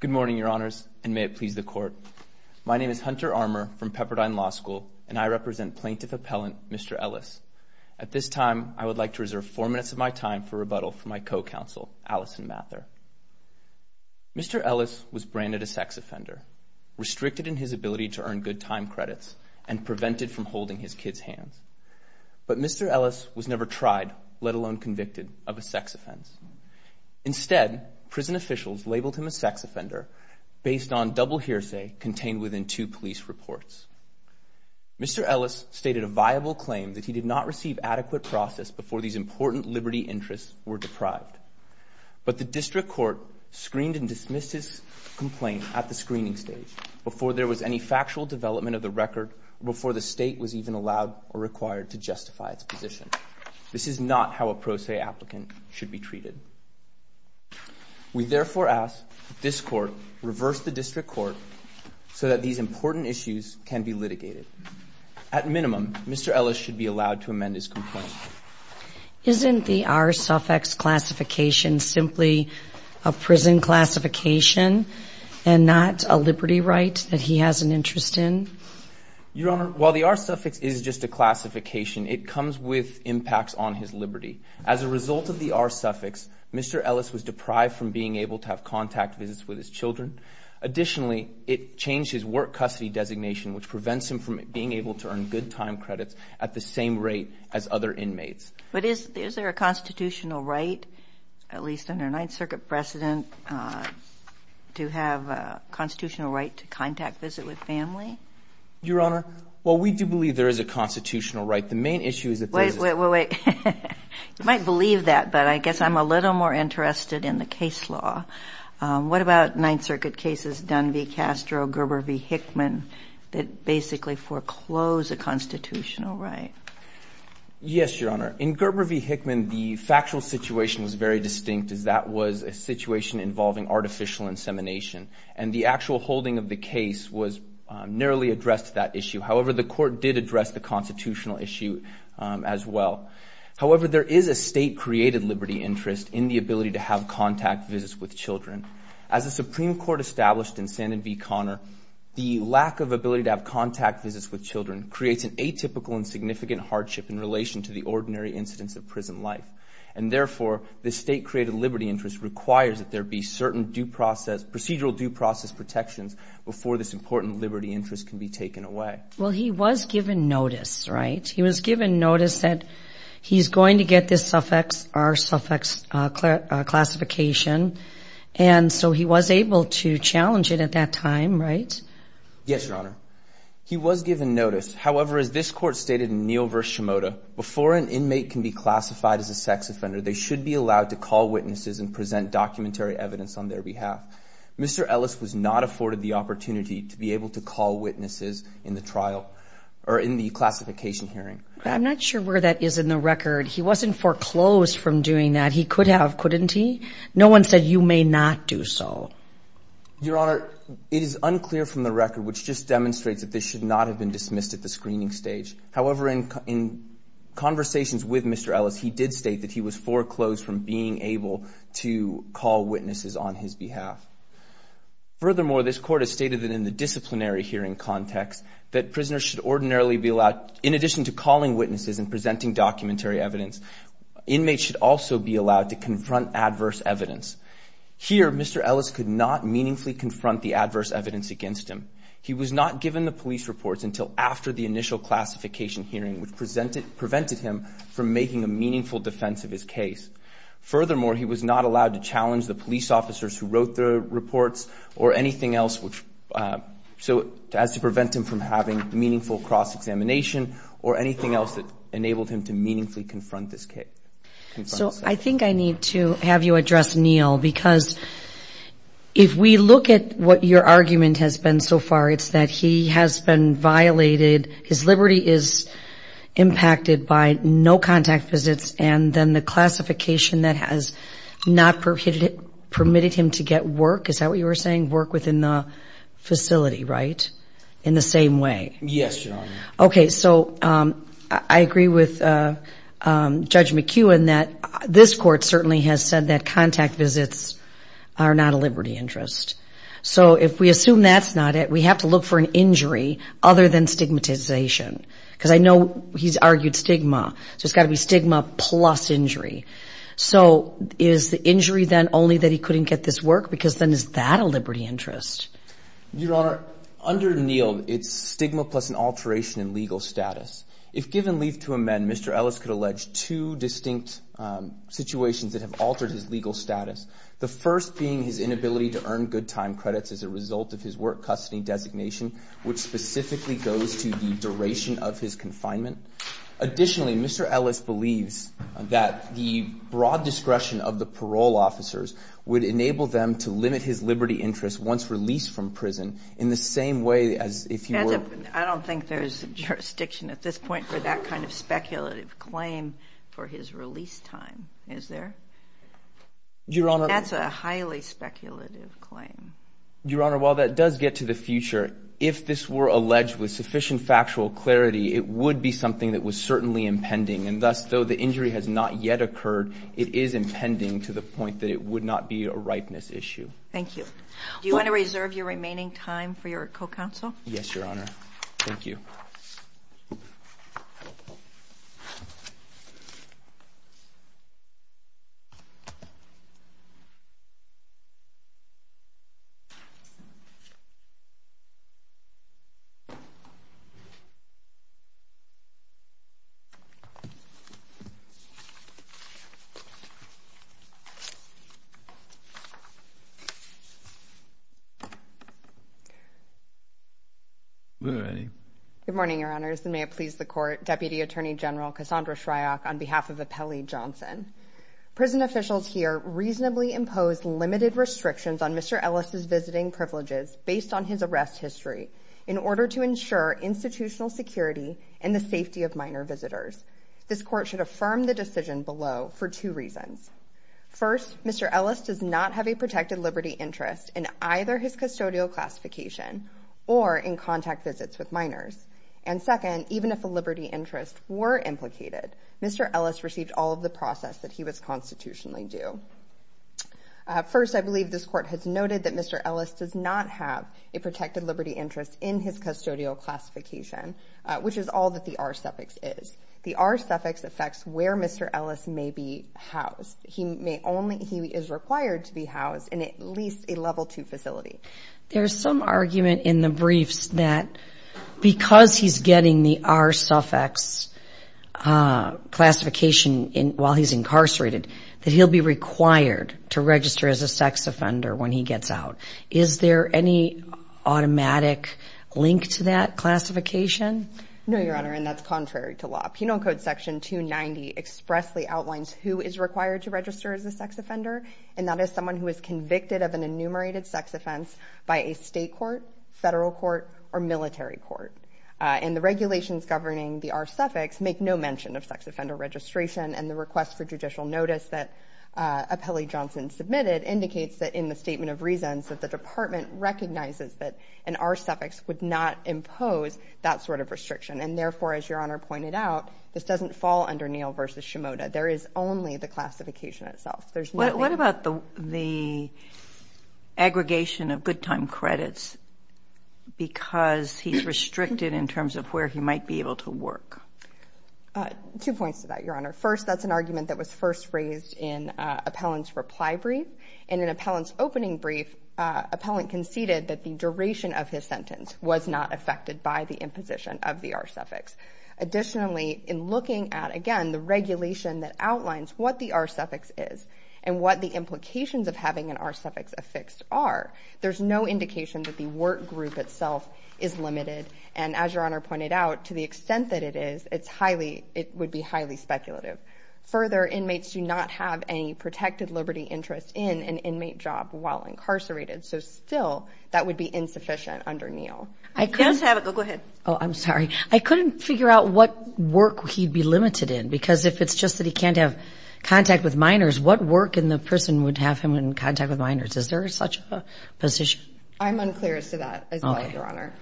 Good morning, Your Honors, and may it please the Court. My name is Hunter Armour from Pepperdine Law School, and I represent Plaintiff Appellant Mr. Ellis. At this time, I would like to reserve four minutes of my time for rebuttal from my co-counsel, Allison Mather. Mr. Ellis was branded a sex offender, restricted in his ability to earn good time credits, and prevented from holding his kids' hands. But Mr. Ellis was never tried, let alone convicted, of a sex offense. Instead, prison officials labeled him a sex offender, based on double hearsay contained within two police reports. Mr. Ellis stated a viable claim that he did not receive adequate process before these important liberty interests were deprived. But the District Court screened and dismissed his complaint at the screening stage, before there was any factual development of the record, or before the state was even allowed or required to justify its position. This is not how a pro se applicant should be treated. We therefore ask that this Court reverse the District Court so that these important issues can be litigated. At minimum, Mr. Ellis should be allowed to amend his complaint. Isn't the R-suffix classification simply a prison classification and not a liberty right that he has an interest in? Your Honor, while the R-suffix is just a classification, it comes with impacts on his liberty. As a result of the R-suffix, Mr. Ellis was deprived from being able to have contact visits with his children. Additionally, it changed his work custody designation, which prevents him from being able to earn good time credits at the same rate as other inmates. But is there a constitutional right, at least under Ninth Circuit precedent, to have a constitutional right to contact visit with family? Your Honor, while we do believe there is a constitutional right, the main issue is that there is a... Wait, wait, wait, wait. You might believe that, but I guess I'm a little more interested in the case law. What about Ninth Circuit cases, Dunn v. Castro, Gerber v. Hickman, that basically foreclose a constitutional right? Yes, Your Honor. In Gerber v. Hickman, the factual situation was very distinct, as that was a situation involving artificial insemination. The actual holding of the case narrowly addressed that issue. However, the court did address the constitutional issue as well. However, there is a state-created liberty interest in the ability to have contact visits with children. As the Supreme Court established in Sandin v. Conner, the lack of ability to have contact visits with children creates an atypical and significant hardship in relation to the ordinary incidence of prison life. Therefore, the state-created liberty interest requires that there be certain procedural due process protections before this important liberty interest can be taken away. Well, he was given notice, right? He was given notice that he's going to get this suffix, R-suffix classification, and so he was able to challenge it at that time, right? Yes, Your Honor. He was given notice. However, as this court stated in Neal v. Shimoda, before an inmate can be classified as a sex offender, they should be allowed to call witnesses and present documentary evidence on their behalf. Mr. Ellis was not afforded the opportunity to be able to call witnesses in the trial or in the classification hearing. I'm not sure where that is in the record. He wasn't foreclosed from doing that. He could have, couldn't he? No one said you may not do so. Your Honor, it is unclear from the record, which just demonstrates that this should not have been dismissed at the screening stage. However, in conversations with Mr. Ellis, he did state that he was foreclosed from being able to call witnesses on his behalf. Furthermore, this court has stated that in the disciplinary hearing context, that prisoners should ordinarily be allowed, in addition to calling witnesses and presenting documentary evidence, inmates should also be allowed to confront adverse evidence. Here, Mr. Ellis could not meaningfully confront the adverse evidence against him. He was not given the police reports until after the initial classification hearing, which prevented him from making a meaningful defense of his case. Furthermore, he was not allowed to challenge the police officers who wrote the reports or anything else which, so as to prevent him from having meaningful cross-examination or anything else that enabled him to meaningfully confront this case. So I think I need to have you address Neil because if we look at what your argument has been so far, it's that he has been violated, his liberty is impacted by no contact visits and then the classification that has not permitted him to get work, is that what you were saying? Work within the facility, right? In the same way? Yes, Your Honor. Okay, so I agree with Judge McEwen that this court certainly has said that contact visits are not a liberty interest. So if we assume that's not it, we have to look for an injury other than stigmatization because I know he's argued stigma, so it's got to be stigma plus injury. So is the injury then only that he couldn't get this work? Because then is that a liberty interest? Your Honor, under Neil, it's stigma plus an alteration in legal status. If given leave to amend, Mr. Ellis could allege two distinct situations that have altered his legal status. The first being his inability to earn good time credits as a result of his work custody designation, which specifically goes to the duration of his confinement. Additionally, Mr. Ellis believes that the broad discretion of the parole officers would enable them to limit his liberty interest once released from prison in the same way as if he were... I don't think there's jurisdiction at this point for that kind of speculative claim for his release time, is there? Your Honor... That's a highly speculative claim. Your Honor, while that does get to the future, if this were alleged with sufficient factual clarity, it would be something that was certainly impending. And thus, though the injury has not yet occurred, it is impending to the point that it would not be a ripeness issue. Thank you. Do you want to reserve your remaining time for your co-counsel? Yes, Your Honor. Thank you. Good morning, Your Honors, and may it please the Court, Deputy Attorney General Cassandra Shryock on behalf of Appellee Johnson. Prison officials here reasonably impose limited restrictions on Mr. Ellis' visiting privileges based on his arrest history in order to ensure institutional security and the safety of minor visitors. This Court should affirm the decision below for two reasons. First, Mr. Ellis does not have a protected liberty interest in either his custodial classification or in contact visits with minors. And second, even if a liberty interest were implicated, Mr. Ellis received all of the process that he was constitutionally due. First, I believe this Court has noted that Mr. Ellis does not have a protected liberty interest in his custodial classification, which is all that the R-suffix is. The R-suffix affects where Mr. Ellis may be housed. He may only, he is required to be housed in at least a level two facility. There's some argument in the briefs that because he's getting the R-suffix classification while he's incarcerated, that he'll be required to register as a sex offender when he gets out. Is there any automatic link to that classification? No, Your Honor, and that's contrary to law. Penal Code Section 290 expressly outlines who is required to register as a sex offender, and that is someone who is convicted of an enumerated sex offense by a state court, federal court, or military court. And the regulations governing the R-suffix make no mention of sex offender registration, and the request for judicial notice that Appellee Johnson submitted indicates that in the Statement of Reasons that the Department recognizes that an R-suffix would not impose that sort of restriction. And therefore, as Your Honor pointed out, this doesn't fall under Neal v. Shimoda. There is only the classification itself. What about the aggregation of good time credits because he's restricted in terms of where he might be able to work? Two points to that, Your Honor. First, that's an argument that was first raised in Appellant's reply brief, and in Appellant's opening brief, Appellant conceded that the duration of his sentence was not affected by the imposition of the R-suffix. Additionally, in looking at, again, the regulation that outlines what the R-suffix is and what the implications of having an R-suffix affixed are, there's no indication that the work group itself is limited. And as Your Honor pointed out, to the extent that it is, it would be highly speculative. Further, inmates do not have any protected liberty interest in an inmate job while incarcerated. So still, that would be insufficient under Neal. Go ahead. Oh, I'm sorry. I couldn't figure out what work he'd be limited in because if it's just that he can't have contact with minors, what work in the prison would have him in contact with minors? Is there such a position? I'm unclear as to that as well, Your Honor.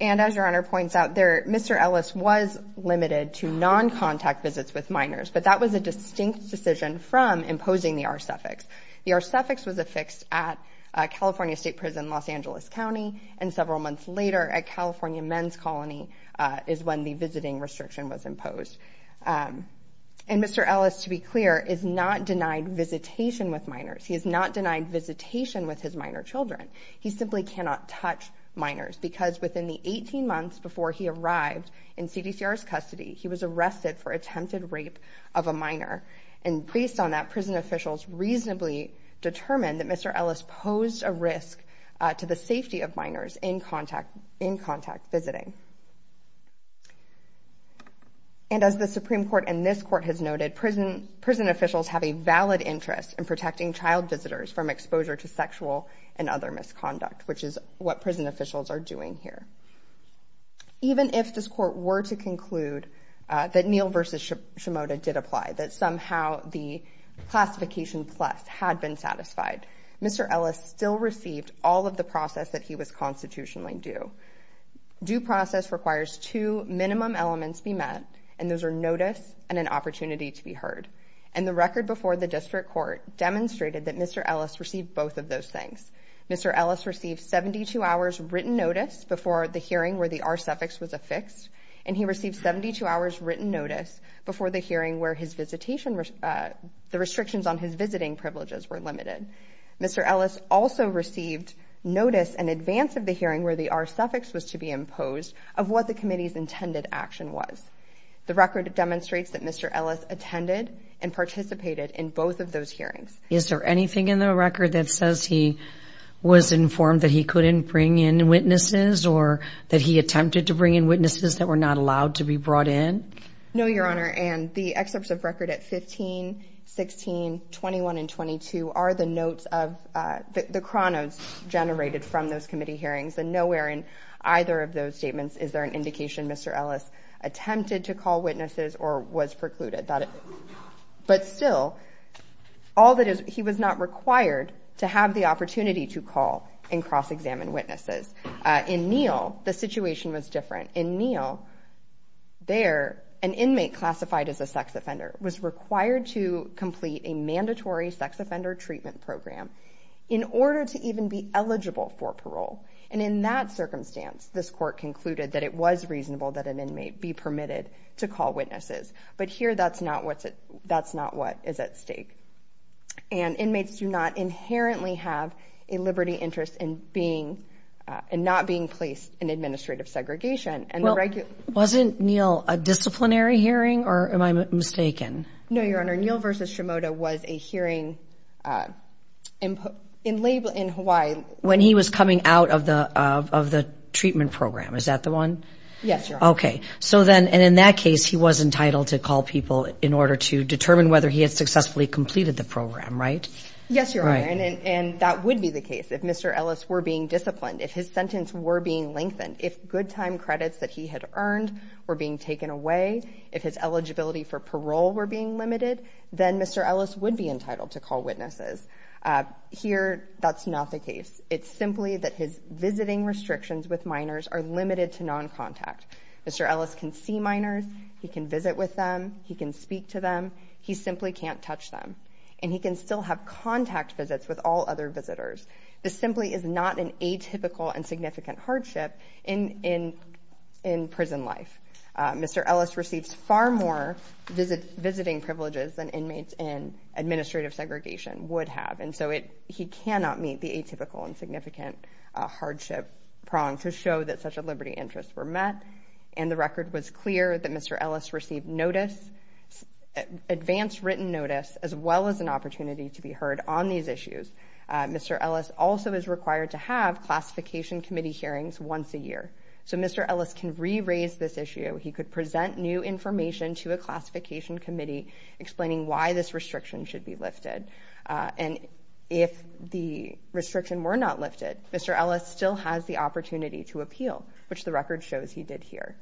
And as Your Honor points out, Mr. Ellis was limited to non-contact visits with minors, but that was a distinct decision from imposing the R-suffix. The R-suffix was affixed at a California state prison in Los Angeles County, and several months later at California Men's Colony is when the visiting restriction was imposed. And Mr. Ellis, to be clear, is not denied visitation with minors. He is not denied visitation with his minor children. He simply cannot touch minors because within the 18 months before he arrived in CDCR's custody, he was arrested for attempted rape of a minor. And based on that, prison officials reasonably determined that Mr. Ellis posed a risk to the safety of minors in contact visiting. And as the Supreme Court and this Court has noted, prison officials have a valid interest in protecting child visitors from exposure to sexual and other misconduct, which is what prison officials are doing here. Even if this Court were to conclude that Neal v. Shimoda did apply, that somehow the classification plus had been satisfied, Mr. Ellis still received all of the process that he was constitutionally due. Due process requires two minimum elements be met, and those are notice and an opportunity to be heard. And the record before the District Court demonstrated that Mr. Ellis received both of those things. Mr. Ellis received 72 hours written notice before the hearing where the R-suffix was affixed, and he received 72 hours written notice before the hearing where the restrictions on his visiting privileges were limited. Mr. Ellis also received notice in advance of the hearing where the R-suffix was to be imposed of what the committee's intended action was. The record demonstrates that Mr. Ellis attended and participated in both of those hearings. Is there anything in the record that says he was informed that he couldn't bring in witnesses or that he attempted to bring in witnesses that were not allowed to be brought in? No, Your Honor, and the excerpts of record at 15, 16, 21, and 22 are the notes of the chronos generated from those committee hearings, and nowhere in either of those statements is there an indication Mr. Ellis attempted to call witnesses or was precluded. But still, he was not required to have the opportunity to call and cross-examine witnesses. In Neal, the situation was different. In Neal, there, an inmate classified as a sex offender was required to complete a mandatory sex offender treatment program in order to even be eligible for parole. And in that circumstance, this court concluded that it was reasonable that an inmate be permitted to call witnesses. But here, that's not what is at stake. And inmates do not inherently have a liberty interest in not being placed in administrative segregation. Well, wasn't Neal a disciplinary hearing, or am I mistaken? No, Your Honor. Neal v. Shimoda was a hearing in Hawaii when he was coming out of the treatment program. Is that the one? Yes, Your Honor. Okay. So then, and in that case, he was entitled to call people in order to determine whether he had successfully completed the program, right? Yes, Your Honor, and that would be the case if Mr. Ellis were being disciplined, if his part-time credits that he had earned were being taken away, if his eligibility for parole were being limited, then Mr. Ellis would be entitled to call witnesses. Here, that's not the case. It's simply that his visiting restrictions with minors are limited to non-contact. Mr. Ellis can see minors, he can visit with them, he can speak to them, he simply can't touch them. And he can still have contact visits with all other visitors. This simply is not an atypical and significant hardship in prison life. Mr. Ellis receives far more visiting privileges than inmates in administrative segregation would have, and so he cannot meet the atypical and significant hardship prong to show that such a liberty interest were met. And the record was clear that Mr. Ellis received notice, advance written notice, as well as an opportunity to be heard on these issues. Mr. Ellis also is required to have classification committee hearings once a year. So Mr. Ellis can re-raise this issue, he could present new information to a classification committee explaining why this restriction should be lifted. And if the restriction were not lifted, Mr. Ellis still has the opportunity to appeal, which the record shows he did here.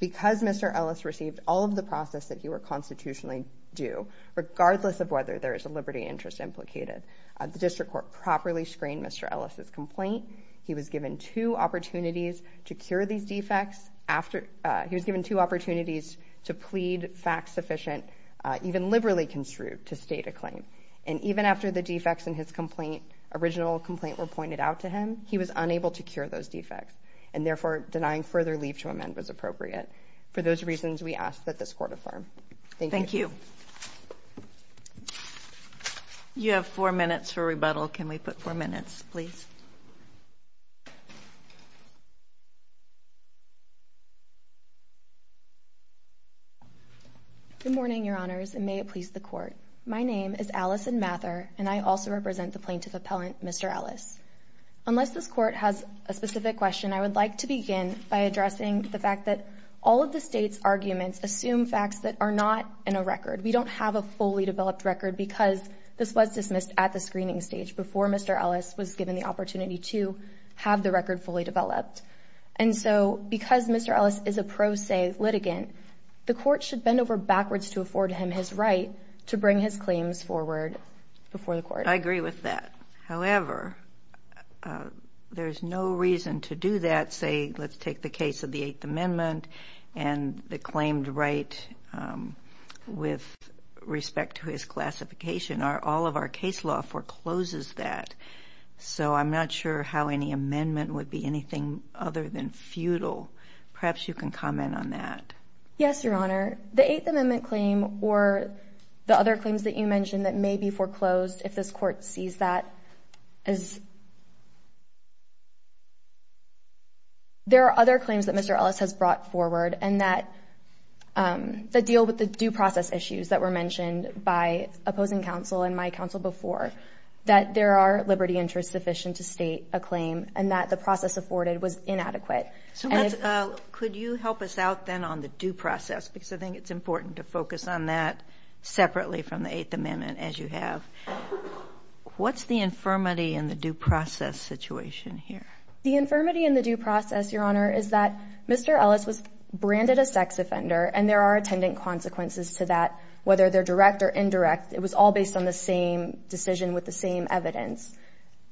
Because Mr. Ellis received all of the process that he were constitutionally due, regardless of whether there is a liberty interest implicated. The district court properly screened Mr. Ellis' complaint. He was given two opportunities to cure these defects, he was given two opportunities to plead fact sufficient, even liberally construed, to state a claim. And even after the defects in his original complaint were pointed out to him, he was unable to cure those defects. And therefore, denying further leave to amend was appropriate. For those reasons, we ask that this court affirm. Thank you. Thank you. You have four minutes for rebuttal. Can we put four minutes, please? Good morning, your honors, and may it please the court. My name is Allison Mather, and I also represent the plaintiff appellant, Mr. Ellis. Unless this court has a specific question, I would like to begin by addressing the fact that all of the state's arguments assume facts that are not in a record. We don't have a fully developed record because this was dismissed at the screening stage before Mr. Ellis was given the opportunity to have the record fully developed. And so, because Mr. Ellis is a pro se litigant, the court should bend over backwards to afford him his right to bring his claims forward before the court. I agree with that. However, there's no reason to do that, say, let's take the case of the Eighth Amendment and the claimed right with respect to his classification. All of our case law forecloses that. So, I'm not sure how any amendment would be anything other than futile. Perhaps you can comment on that. Yes, your honor. The Eighth Amendment claim or the other claims that you mentioned that may be foreclosed, if this court sees that as... There are other claims that Mr. Ellis has brought forward and that deal with the due process issues that were mentioned by opposing counsel and my counsel before, that there are liberty interests sufficient to state a claim and that the process afforded was inadequate. Could you help us out then on the due process because I think it's important to focus on that separately from the Eighth Amendment as you have. What's the infirmity in the due process situation here? The infirmity in the due process, your honor, is that Mr. Ellis was branded a sex offender and there are attendant consequences to that, whether they're direct or indirect. It was all based on the same decision with the same evidence.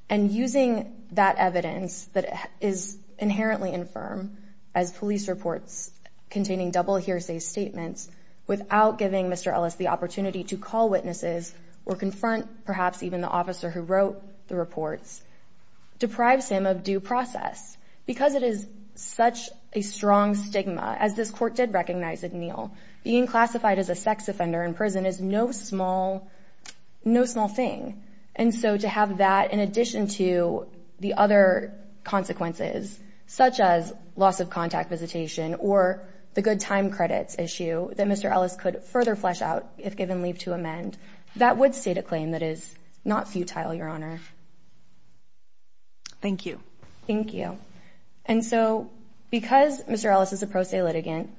And using that evidence that is inherently infirm as police reports containing double hearsay statements without giving Mr. Ellis the opportunity to call witnesses or confront perhaps even the officer who wrote the reports deprives him of due process. Because it is such a strong stigma, as this court did recognize in Neal, being classified as a sex offender in prison is no small thing. And so to have that in addition to the other consequences, such as loss of contact visitation or the good time credits issue that Mr. Ellis could further flesh out if given leave to amend, that would state a claim that is not futile, your honor. Thank you. Thank you. And so because Mr. Ellis is a pro se litigant,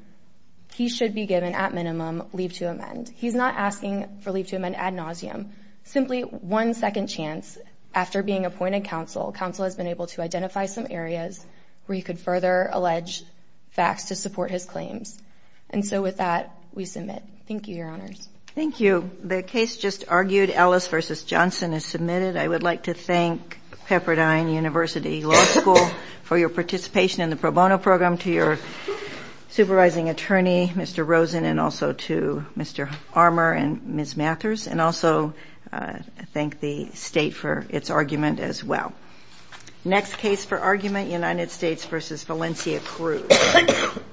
he should be given at minimum leave to amend. He's not asking for leave to amend ad nauseum, simply one second chance. After being appointed counsel, counsel has been able to identify some areas where you could further allege facts to support his claims. And so with that, we submit. Thank you, your honors. Thank you. The case just argued, Ellis v. Johnson is submitted. I would like to thank Pepperdine University Law School for your participation in the pro bono program, to your supervising attorney, Mr. Rosen, and also to Mr. Armour and Ms. Mathers, and also thank the state for its argument as well. Next case for argument, United States v. Valencia Cruz.